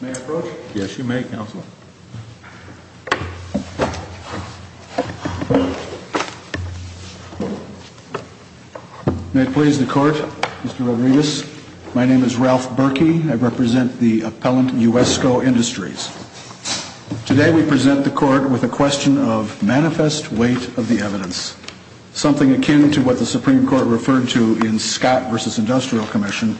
May I approach? Yes, you may, Counselor. May it please the Court, Mr. Rodriguez. My name is Ralph Berkey. I represent the appellant USCO Industries. Today we present the Court with a question of manifest weight of the evidence. Something akin to what the Supreme Court referred to in Scott v. Industrial Commission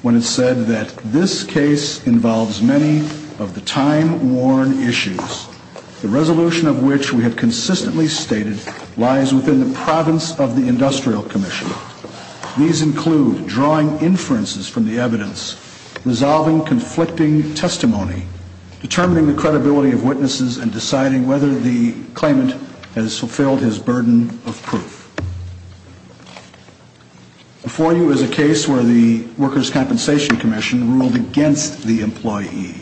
when it said that this case involves many of the time-worn issues. The resolution of which we have consistently stated lies within the province of the Industrial Commission. These include drawing inferences from the evidence, resolving conflicting testimony, determining the credibility of witnesses, and deciding whether the claimant has fulfilled his burden of proof. Before you is a case where the Workers' Compensation Commission ruled against the employee,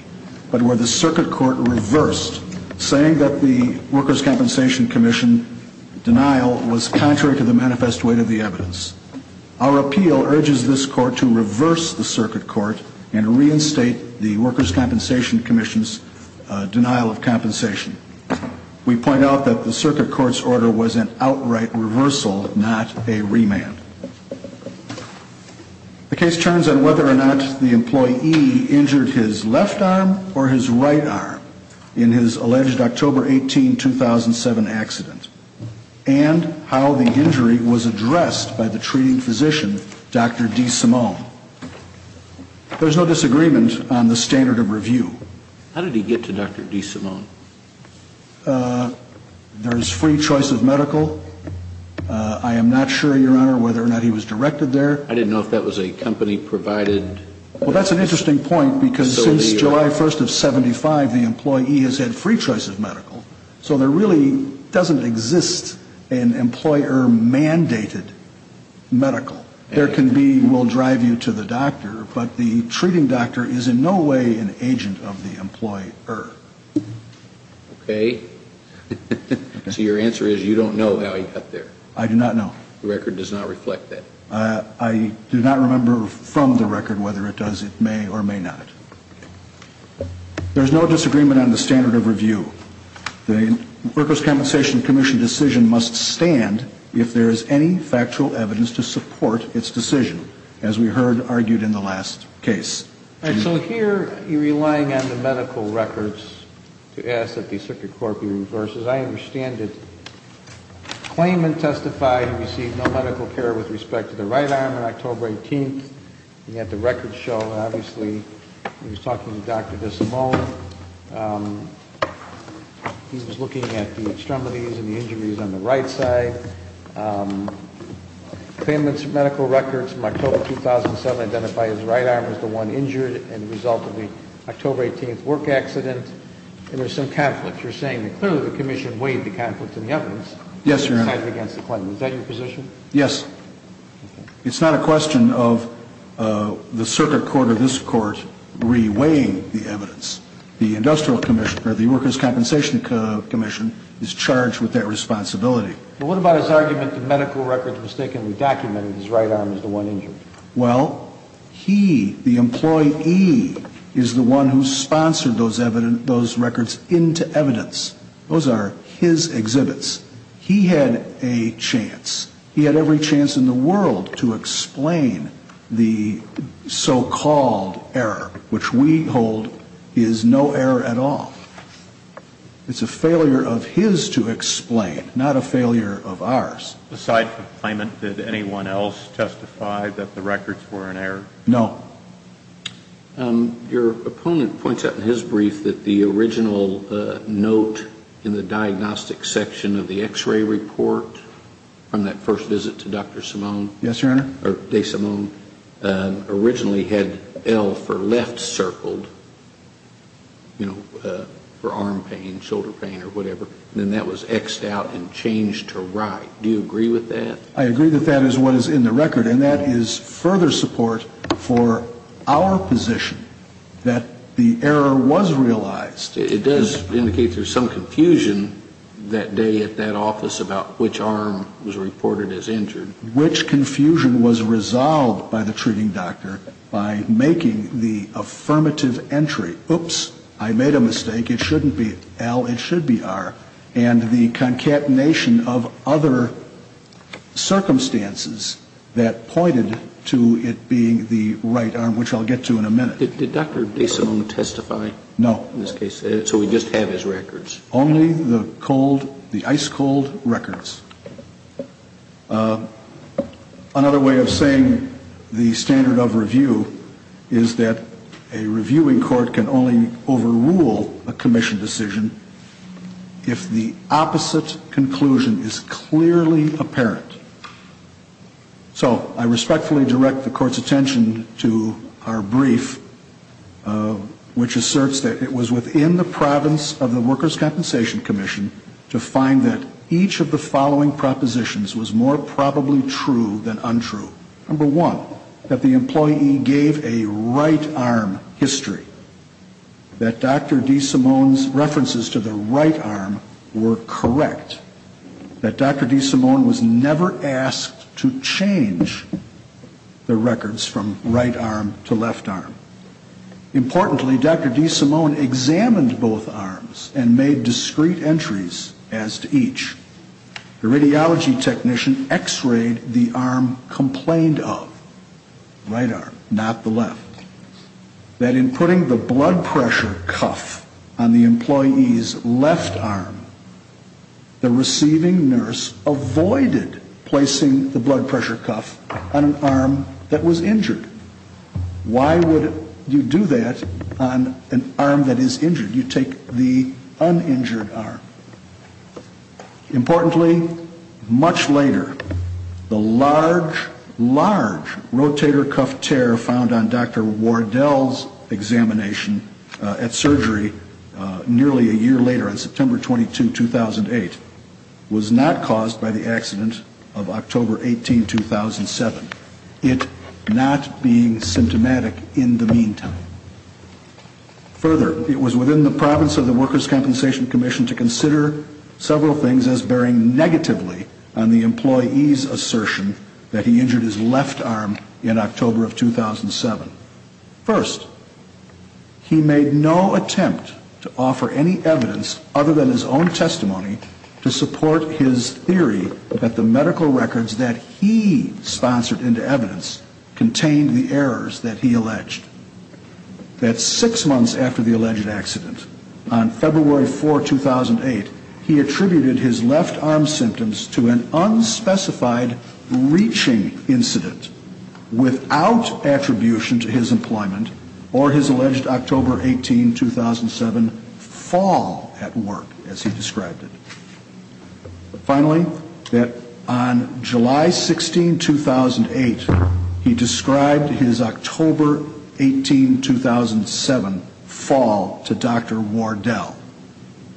but where the Circuit Court reversed, saying that the Workers' Compensation Commission denial was contrary to the manifest weight of the evidence. Our appeal urges this Court to reverse the Circuit Court and reinstate the Workers' Compensation Commission's denial of compensation. We point out that the Circuit Court's order was an outright reversal, not a remand. The case turns on whether or not the employee injured his left arm or his right arm in his alleged October 18, 2007 accident, and how the injury was addressed by the treating physician, Dr. DeSimone. There's no disagreement on the standard of review. How did he get to Dr. DeSimone? There's free choice of medical. I am not sure, Your Honor, whether or not he was directed there. I didn't know if that was a company provided. Well, that's an interesting point, because since July 1 of 1975, the employee has had free choice of medical. So there really doesn't exist an employer-mandated medical. There can be, we'll drive you to the doctor, but the treating doctor is in no way an agent of the employer. Okay. So your answer is you don't know how he got there. I do not know. The record does not reflect that. I do not remember from the record whether it does. It may or may not. There's no disagreement on the standard of review. The Workers' Compensation Commission decision must stand if there is any factual evidence to support its decision, as we heard argued in the last case. So here you're relying on the medical records to ask that the circuit court be reversed. As I understand it, the claimant testified he received no medical care with respect to the right arm on October 18th. He had the records show, and obviously he was talking to Dr. DeSimone. He was looking at the extremities and the injuries on the right side. The claimant's medical records from October 2007 identify his right arm as the one injured as a result of the October 18th work accident. And there's some conflict. You're saying that clearly the commission weighed the conflict in the evidence. Yes, Your Honor. Is that your position? Yes. It's not a question of the circuit court or this court re-weighing the evidence. The Industrial Commission, or the Workers' Compensation Commission, is charged with that responsibility. But what about his argument the medical records mistakenly documented his right arm as the one injured? Well, he, the employee, is the one who sponsored those records into evidence. Those are his exhibits. He had a chance. He had every chance in the world to explain the so-called error, which we hold is no error at all. It's a failure of his to explain, not a failure of ours. Aside from the claimant, did anyone else testify that the records were an error? No. Your opponent points out in his brief that the original note in the diagnostic section of the X-ray report from that first visit to Dr. Simone. Yes, Your Honor. Or Desimone, originally had L for left circled, you know, for arm pain, shoulder pain, or whatever. Then that was X'd out and changed to right. Do you agree with that? I agree that that is what is in the record. And that is further support for our position that the error was realized. It does indicate there's some confusion that day at that office about which arm was reported as injured. Which confusion was resolved by the treating doctor by making the affirmative entry, oops, I made a mistake, it shouldn't be L, it should be R. And the concatenation of other circumstances that pointed to it being the right arm, which I'll get to in a minute. Did Dr. Desimone testify? No. In this case. So we just have his records. Only the cold, the ice cold records. Another way of saying the standard of review is that a reviewing court can only overrule a commission decision if the opposite conclusion is clearly apparent. So I respectfully direct the court's attention to our brief, which asserts that it was within the province of the workers' compensation commission to find that each of the following propositions was more probably true than untrue. Number one, that the employee gave a right arm history. That Dr. Desimone's references to the right arm were correct. That Dr. Desimone was never asked to change the records from right arm to left arm. Importantly, Dr. Desimone examined both arms and made discrete entries as to each. The radiology technician x-rayed the arm complained of, right arm, not the left. That in putting the blood pressure cuff on the employee's left arm, the receiving nurse avoided placing the blood pressure cuff on an arm that was injured. Why would you do that on an arm that is injured? You take the uninjured arm. Importantly, much later, the large, large rotator cuff tear found on Dr. Wardell's examination at surgery nearly a year later on September 22, 2008, was not caused by the accident of October 18, 2007. It not being symptomatic in the meantime. Further, it was within the province of the Workers' Compensation Commission to consider several things as bearing negatively on the employee's assertion that he injured his left arm in October of 2007. First, he made no attempt to offer any evidence other than his own testimony to support his theory that the medical records that he sponsored into evidence contained the errors that he alleged. That six months after the alleged accident, on February 4, 2008, he attributed his left arm symptoms to an unspecified reaching incident without attribution to his employment or his alleged October 18, 2007 fall at work, as he described it. Finally, that on July 16, 2008, he described his October 18, 2007 fall to Dr. Wardell.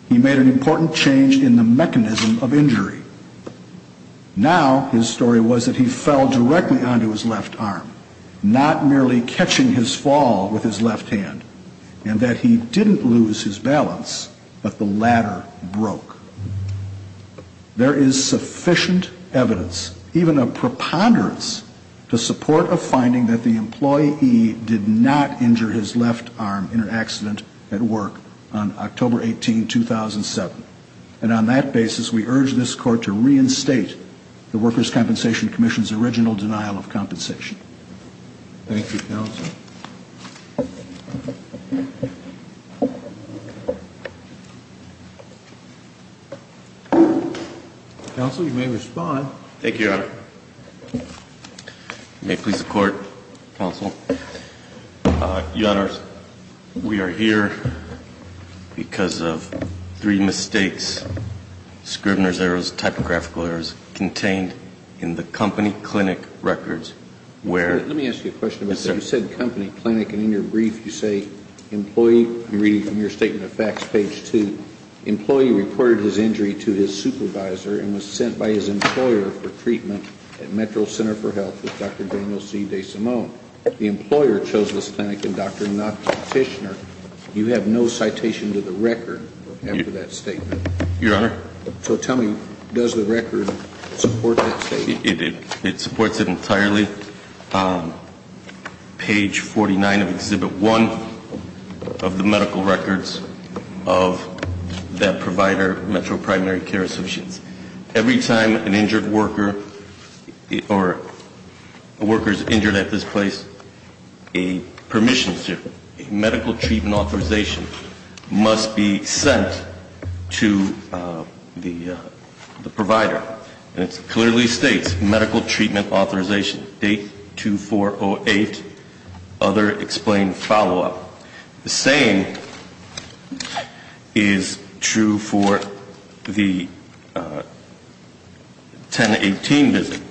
He made an important change in the mechanism of injury. Now, his story was that he fell directly onto his left arm, not merely catching his fall with his left hand, and that he didn't lose his balance, but the ladder broke. There is sufficient evidence, even a preponderance, to support a finding that the employee did not injure his left arm in an accident at work on October 18, 2007. And on that basis, we urge this Court to reinstate the Workers' Compensation Commission's original denial of compensation. Thank you, Counsel. Counsel, you may respond. Thank you, Your Honor. May it please the Court, Counsel. Your Honor, we are here because of three mistakes, Scrivener's errors, typographical errors, contained in the company clinic records, where Let me ask you a question about that. Yes, sir. You said company clinic, and in your brief you say employee. I'm reading from your Statement of Facts, page 2. The employee reported his injury to his supervisor and was sent by his employer for treatment at Metro Center for Health with Dr. Daniel C. DeSimone. The employer chose this clinic and Dr. Notch Tishner. You have no citation to the record after that statement. Your Honor? So tell me, does the record support that statement? It supports it entirely. Page 49 of Exhibit 1 of the medical records of that provider, Metro Primary Care Associates. Every time an injured worker, or a worker is injured at this place, a permission, a medical treatment authorization must be sent to the provider. And it clearly states, medical treatment authorization, date 2-4-0-8, other explained follow-up. The same is true for the 10-18 visit.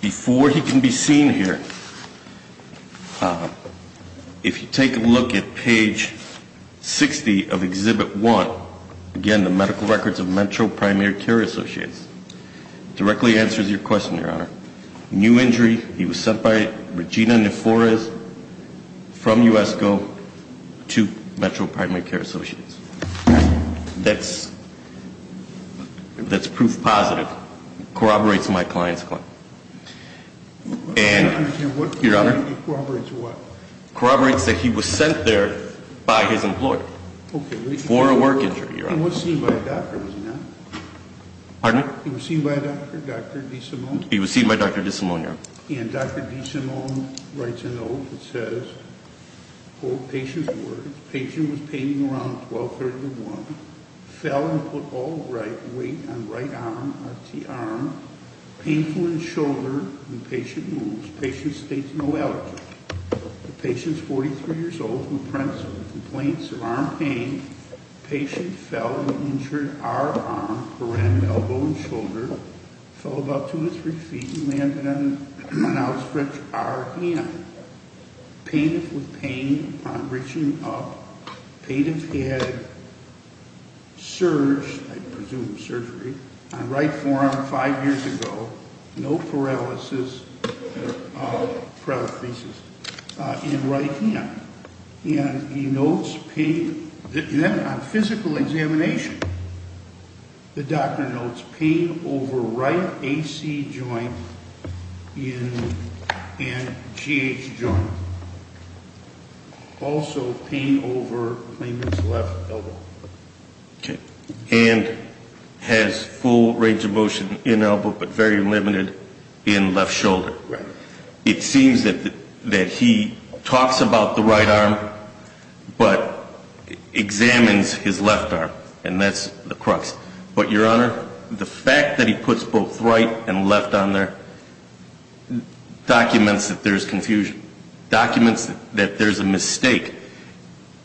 Before he can be seen here, if you take a look at page 60 of Exhibit 1, again, the medical records of Metro Primary Care Associates, it directly answers your question, Your Honor. New injury, he was sent by Regina Neforez from USGO to Metro Primary Care Associates. That's proof positive. Corroborates my client's claim. Your Honor? Corroborates what? Corroborates that he was sent there by his employer for a work injury, Your Honor. He was seen by a doctor, was he not? Pardon me? He was seen by a doctor, Dr. DeSimone? He was seen by Dr. DeSimone, Your Honor. And Dr. DeSimone writes a note that says, quote patient's word. The patient was paining around 12.30 to 1. Fell and put all right weight on right arm, that's the arm. Painful in shoulder when patient moves. Patient states no allergy. The patient's 43 years old and prints with complaints of arm pain. Patient fell and injured arm, around elbow and shoulder. Fell about two or three feet and landed on an outstretched arm. Pain with pain upon reaching up. Patient had surgery, I presume surgery, on right forearm five years ago. No paralysis, paralysis in right hand. And he notes pain. Then on physical examination, the doctor notes pain over right AC joint and GH joint. Also pain over claimant's left elbow. And has full range of motion in elbow but very limited in left shoulder. Right. It seems that he talks about the right arm but examines his left arm. And that's the crux. But, Your Honor, the fact that he puts both right and left on there documents that there's confusion. Documents that there's a mistake.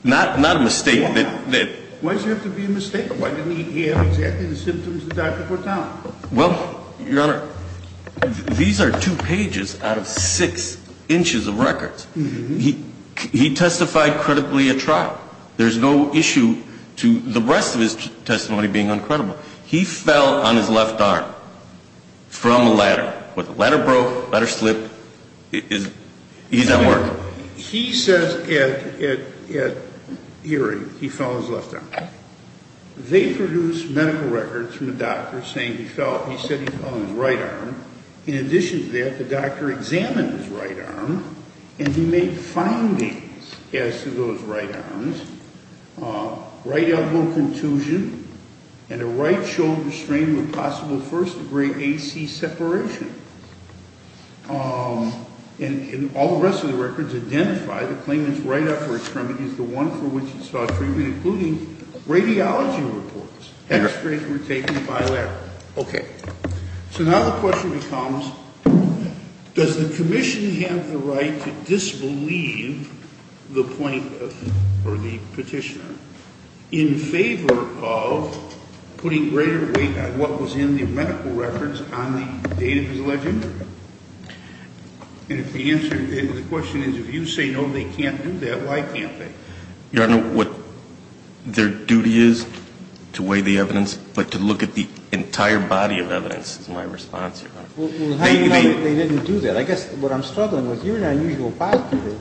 Not a mistake. Why does it have to be a mistake? Why didn't he have exactly the symptoms the doctor put down? Well, Your Honor, these are two pages out of six inches of records. He testified credibly at trial. There's no issue to the rest of his testimony being uncredible. He fell on his left arm from a ladder. Ladder broke, ladder slipped. He's at work. He says at hearing he fell on his left arm. They produced medical records from the doctor saying he said he fell on his right arm. In addition to that, the doctor examined his right arm and he made findings as to those right arms. Right elbow contusion and a right shoulder strain with possible first degree AC separation. And all the rest of the records identify the claimant's right upper extremities, the one for which he saw treatment, including radiology reports. X-rays were taken by a ladder. Okay. So now the question becomes, does the commission have the right to disbelieve the point or the petitioner in favor of putting greater weight on what was in the medical records on the date of his allegation? And if the answer to the question is if you say no, they can't do that, why can't they? Your Honor, what their duty is to weigh the evidence, but to look at the entire body of evidence is my response, Your Honor. Well, how do you know that they didn't do that? I guess what I'm struggling with, you're an unusual prosecutor.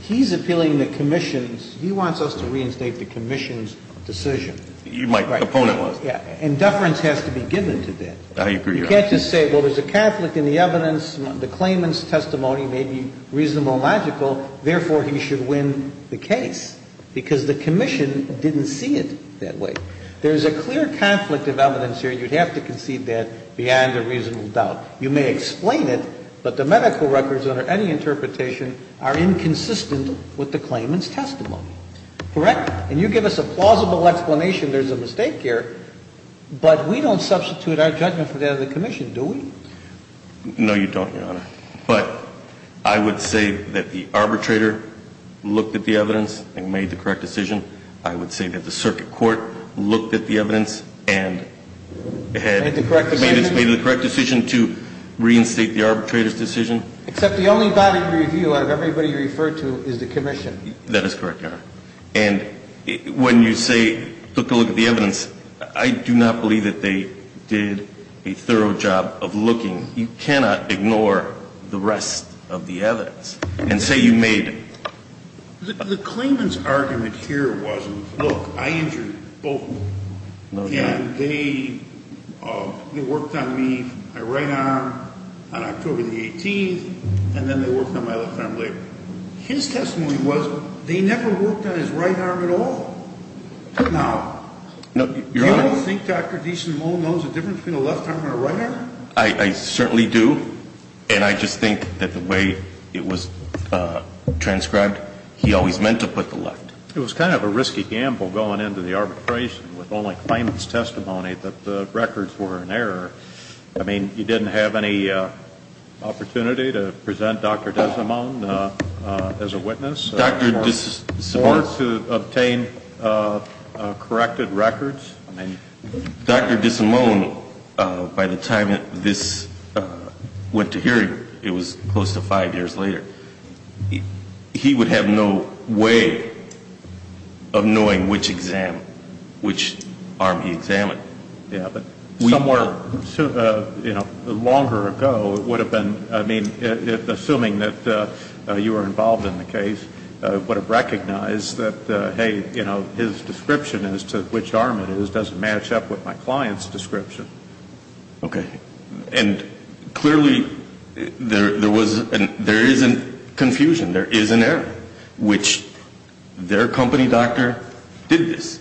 He's appealing the commission's, he wants us to reinstate the commission's decision. My opponent was. Yeah. And deference has to be given to that. I agree, Your Honor. You can't just say, well, there's a conflict in the evidence, the claimant's testimony may be reasonable and logical, therefore, he should win the case. Because the commission didn't see it that way. There's a clear conflict of evidence here, and you'd have to concede that beyond a reasonable doubt. You may explain it, but the medical records under any interpretation are inconsistent with the claimant's testimony. Correct? And you give us a plausible explanation there's a mistake here, but we don't substitute our judgment for that of the commission, do we? No, you don't, Your Honor. But I would say that the arbitrator looked at the evidence and made the correct decision. I would say that the circuit court looked at the evidence and had made the correct decision to reinstate the arbitrator's decision. Except the only body of review out of everybody you referred to is the commission. That is correct, Your Honor. And when you say, took a look at the evidence, I do not believe that they did a thorough job of looking. You cannot ignore the rest of the evidence. And say you made. The claimant's argument here wasn't, look, I injured both of them. No, Your Honor. And they worked on me. I ran on October the 18th, and then they worked on my left arm later. His testimony was they never worked on his right arm at all. Now, do you think Dr. Desimone knows the difference between a left arm and a right arm? I certainly do. And I just think that the way it was transcribed, he always meant to put the left. It was kind of a risky gamble going into the arbitration with only claimant's testimony that the records were in error. I mean, you didn't have any opportunity to present Dr. Desimone as a witness? Or to obtain corrected records? Dr. Desimone, by the time this went to hearing, it was close to five years later, he would have no way of knowing which exam, which arm he examined. Yeah, but somewhere, you know, longer ago, it would have been, I mean, assuming that you were involved in the case, would have recognized that, hey, you know, his description as to which arm it is doesn't match up with my client's description. Okay. And clearly, there is a confusion. There is an error, which their company doctor did this,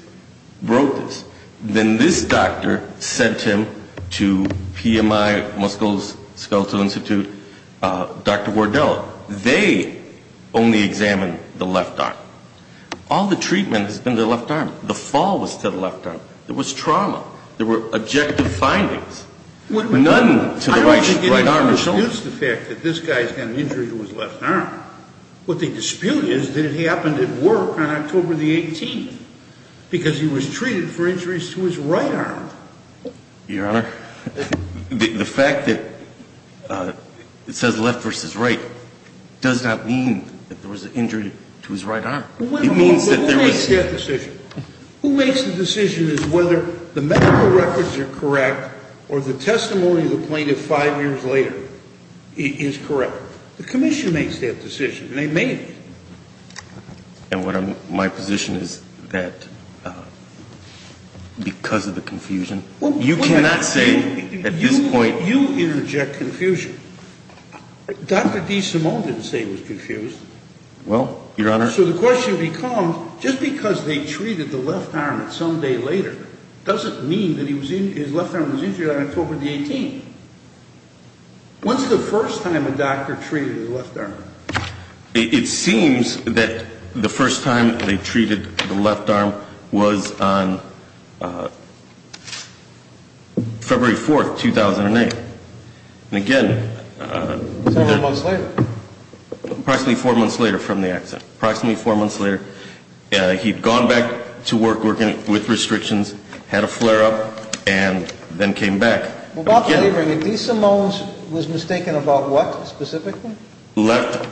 wrote this. Then this doctor sent him to PMI, Moscow's Skeletal Institute, Dr. Wardell. They only examined the left arm. All the treatment has been the left arm. The fall was to the left arm. There was trauma. There were objective findings. None to the right arm or shoulder. I don't think anybody was used to the fact that this guy's got an injury to his left arm. What they dispute is that it happened at work on October the 18th, because he was treated for injuries to his right arm. Your Honor, the fact that it says left versus right does not mean that there was an injury to his right arm. It means that there was an injury to his right arm. Who makes that decision? Who makes the decision as to whether the medical records are correct or the testimony of the plaintiff five years later is correct? The commission makes that decision, and they made it. And my position is that because of the confusion, you cannot say at this point. You interject confusion. Dr. DeSimone didn't say he was confused. Well, Your Honor. So the question becomes, just because they treated the left arm at some day later, doesn't mean that his left arm was injured on October the 18th. When's the first time a doctor treated his left arm? It seems that the first time they treated the left arm was on February 4th, 2008. And again. Several months later. Approximately four months later from the accident. Approximately four months later. He'd gone back to work, working with restrictions, had a flare-up, and then came back. Well, about favoring it, DeSimone was mistaken about what specifically? Left.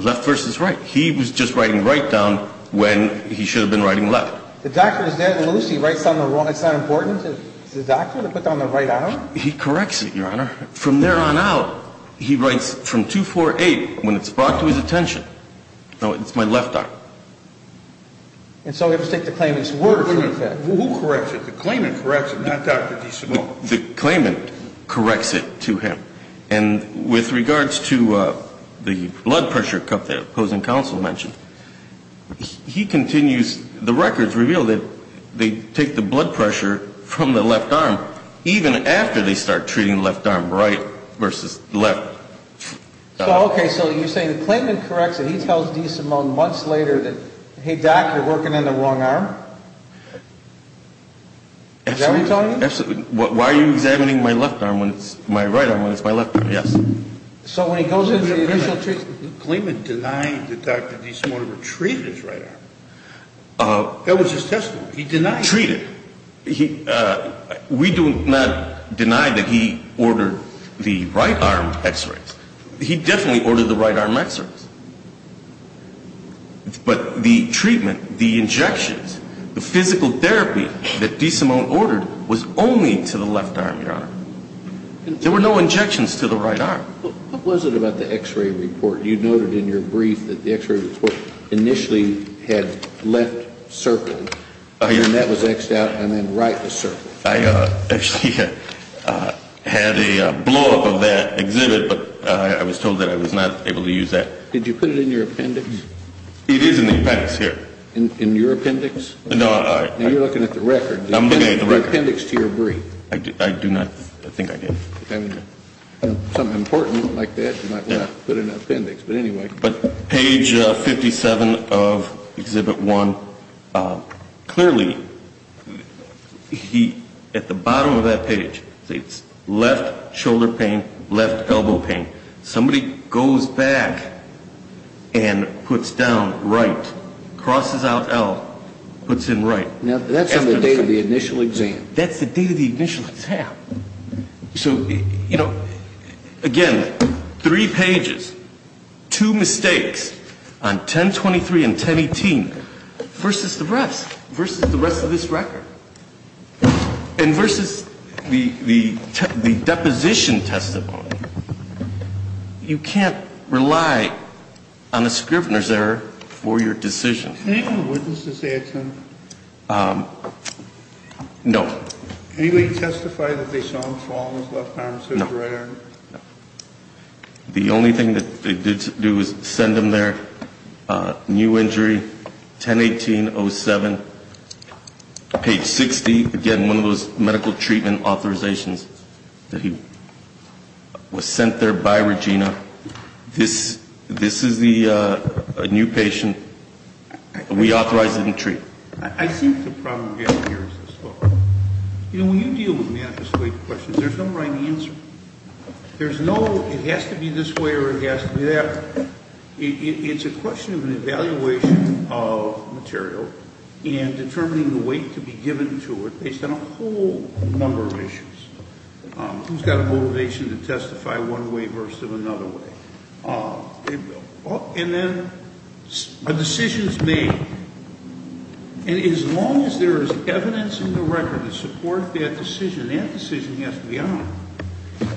Left versus right. He was just writing right down when he should have been writing left. The doctor was dead loose. He writes down the wrong. It's not important to the doctor to put down the right arm? He corrects it, Your Honor. From there on out, he writes from 2-4-8 when it's brought to his attention. No, it's my left arm. And so we have to take the claimant's word for the fact. Who corrects it? The claimant corrects it, not Dr. DeSimone. The claimant corrects it to him. And with regards to the blood pressure cup that opposing counsel mentioned, he continues. The records reveal that they take the blood pressure from the left arm even after they start treating left arm right versus left. Okay, so you're saying the claimant corrects it. He tells DeSimone months later that, hey, doc, you're working on the wrong arm? Is that what he's telling you? Absolutely. Why are you examining my left arm when it's my right arm when it's my left arm? Yes. So when he goes into the initial treatment. The claimant denied that Dr. DeSimone retrieved his right arm. That was his testimony. He denied it. Treated. We do not deny that he ordered the right arm x-rays. He definitely ordered the right arm x-rays. But the treatment, the injections, the physical therapy that DeSimone ordered was only to the left arm, Your Honor. There were no injections to the right arm. What was it about the x-ray report? You noted in your brief that the x-ray report initially had left circled. And that was x-ed out and then right was circled. I actually had a blowup of that exhibit, but I was told that I was not able to use that. Did you put it in your appendix? It is in the appendix here. In your appendix? No, I. You're looking at the record. I'm looking at the record. The appendix to your brief. I do not think I did. Something important like that you might want to put in an appendix. But anyway. Page 57 of Exhibit 1. Clearly, at the bottom of that page, it's left shoulder pain, left elbow pain. Somebody goes back and puts down right, crosses out L, puts in right. That's on the day of the initial exam. That's the day of the initial exam. So, you know, again, three pages, two mistakes on 1023 and 1018 versus the rest. Versus the rest of this record. And versus the deposition testimony. You can't rely on a Scrivener's error for your decision. Can I have the witnesses answer? No. Can you testify that they saw him fall on his left arm, his right arm? No. The only thing that they did do was send him their new injury, 1018-07. Page 60, again, one of those medical treatment authorizations that he was sent there by Regina. This is the new patient. We authorized him to treat. I think the problem here is this, though. You know, when you deal with manifest weight questions, there's no right answer. There's no it has to be this way or it has to be that. It's a question of an evaluation of material and determining the weight to be given to it based on a whole number of issues. Who's got a motivation to testify one way versus another way? And then a decision is made. And as long as there is evidence in the record to support that decision, that decision has to be honored.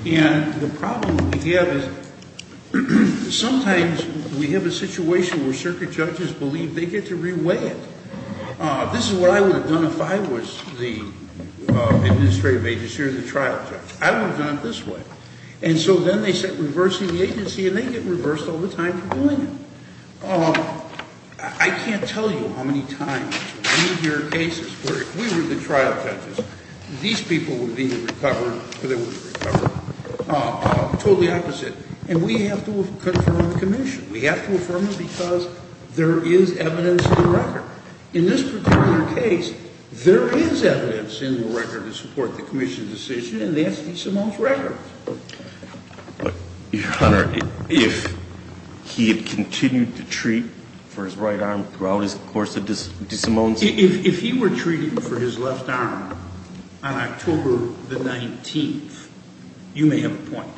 And the problem that we have is sometimes we have a situation where circuit judges believe they get to re-weigh it. This is what I would have done if I was the administrative agency or the trial judge. I would have done it this way. And so then they start reversing the agency, and they get reversed all the time for doing it. I can't tell you how many times we hear cases where if we were the trial judges, these people would be recovered or they wouldn't be recovered. Totally opposite. And we have to affirm the commission. We have to affirm it because there is evidence in the record. In this particular case, there is evidence in the record to support the commission's decision, and that's DeSimone's record. Your Honor, if he had continued to treat for his right arm throughout his course of DeSimone's... If he were treating for his left arm on October the 19th, you may have a point.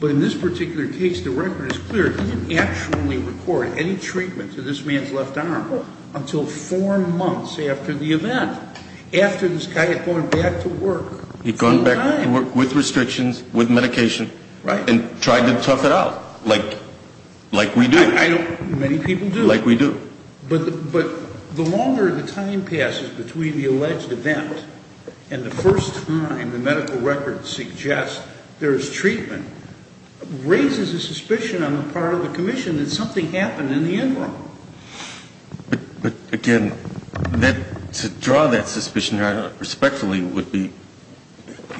But in this particular case, the record is clear. He didn't actually record any treatment to this man's left arm until four months after the event, after this guy had gone back to work. He'd gone back to work with restrictions, with medication. Right. And tried to tough it out like we do. Many people do. Like we do. But the longer the time passes between the alleged event and the first time the medical record suggests there is treatment, raises a suspicion on the part of the commission that something happened in the end room. But, again, to draw that suspicion respectfully would be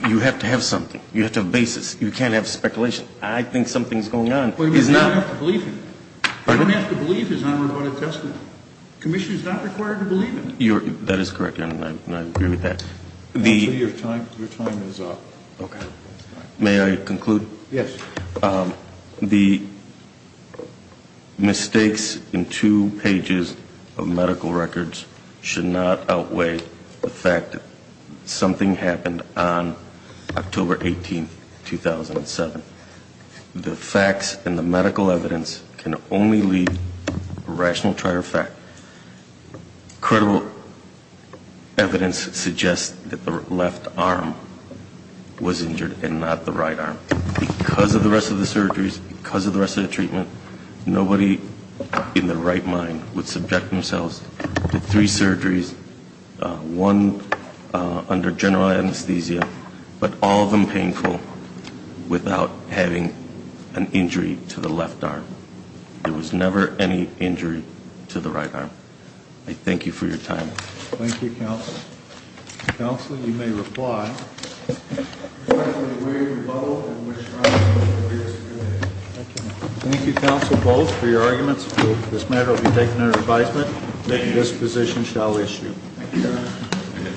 you have to have something. You have to have a basis. You can't have speculation. I think something's going on. You don't have to believe him. Pardon me? You don't have to believe his unremitted testimony. The commission is not required to believe him. That is correct, Your Honor, and I agree with that. Your time is up. Okay. May I conclude? Yes. The mistakes in two pages of medical records should not outweigh the fact that something happened on October 18th, 2007. The facts and the medical evidence can only leave a rational trier of fact. Credible evidence suggests that the left arm was injured and not the right arm. Because of the rest of the surgeries, because of the rest of the treatment, nobody in their right mind would subject themselves to three surgeries, one under general anesthesia, but all of them painful, without having an injury to the left arm. There was never any injury to the right arm. I thank you for your time. Thank you, Counsel. Counsel, you may reply. Respectfully, Wade, Rebuttal, and Ms. Schreiner for their experience. Thank you, Counsel, both, for your arguments. This matter will be taken under advisement. This position shall issue. Thank you, Your Honor.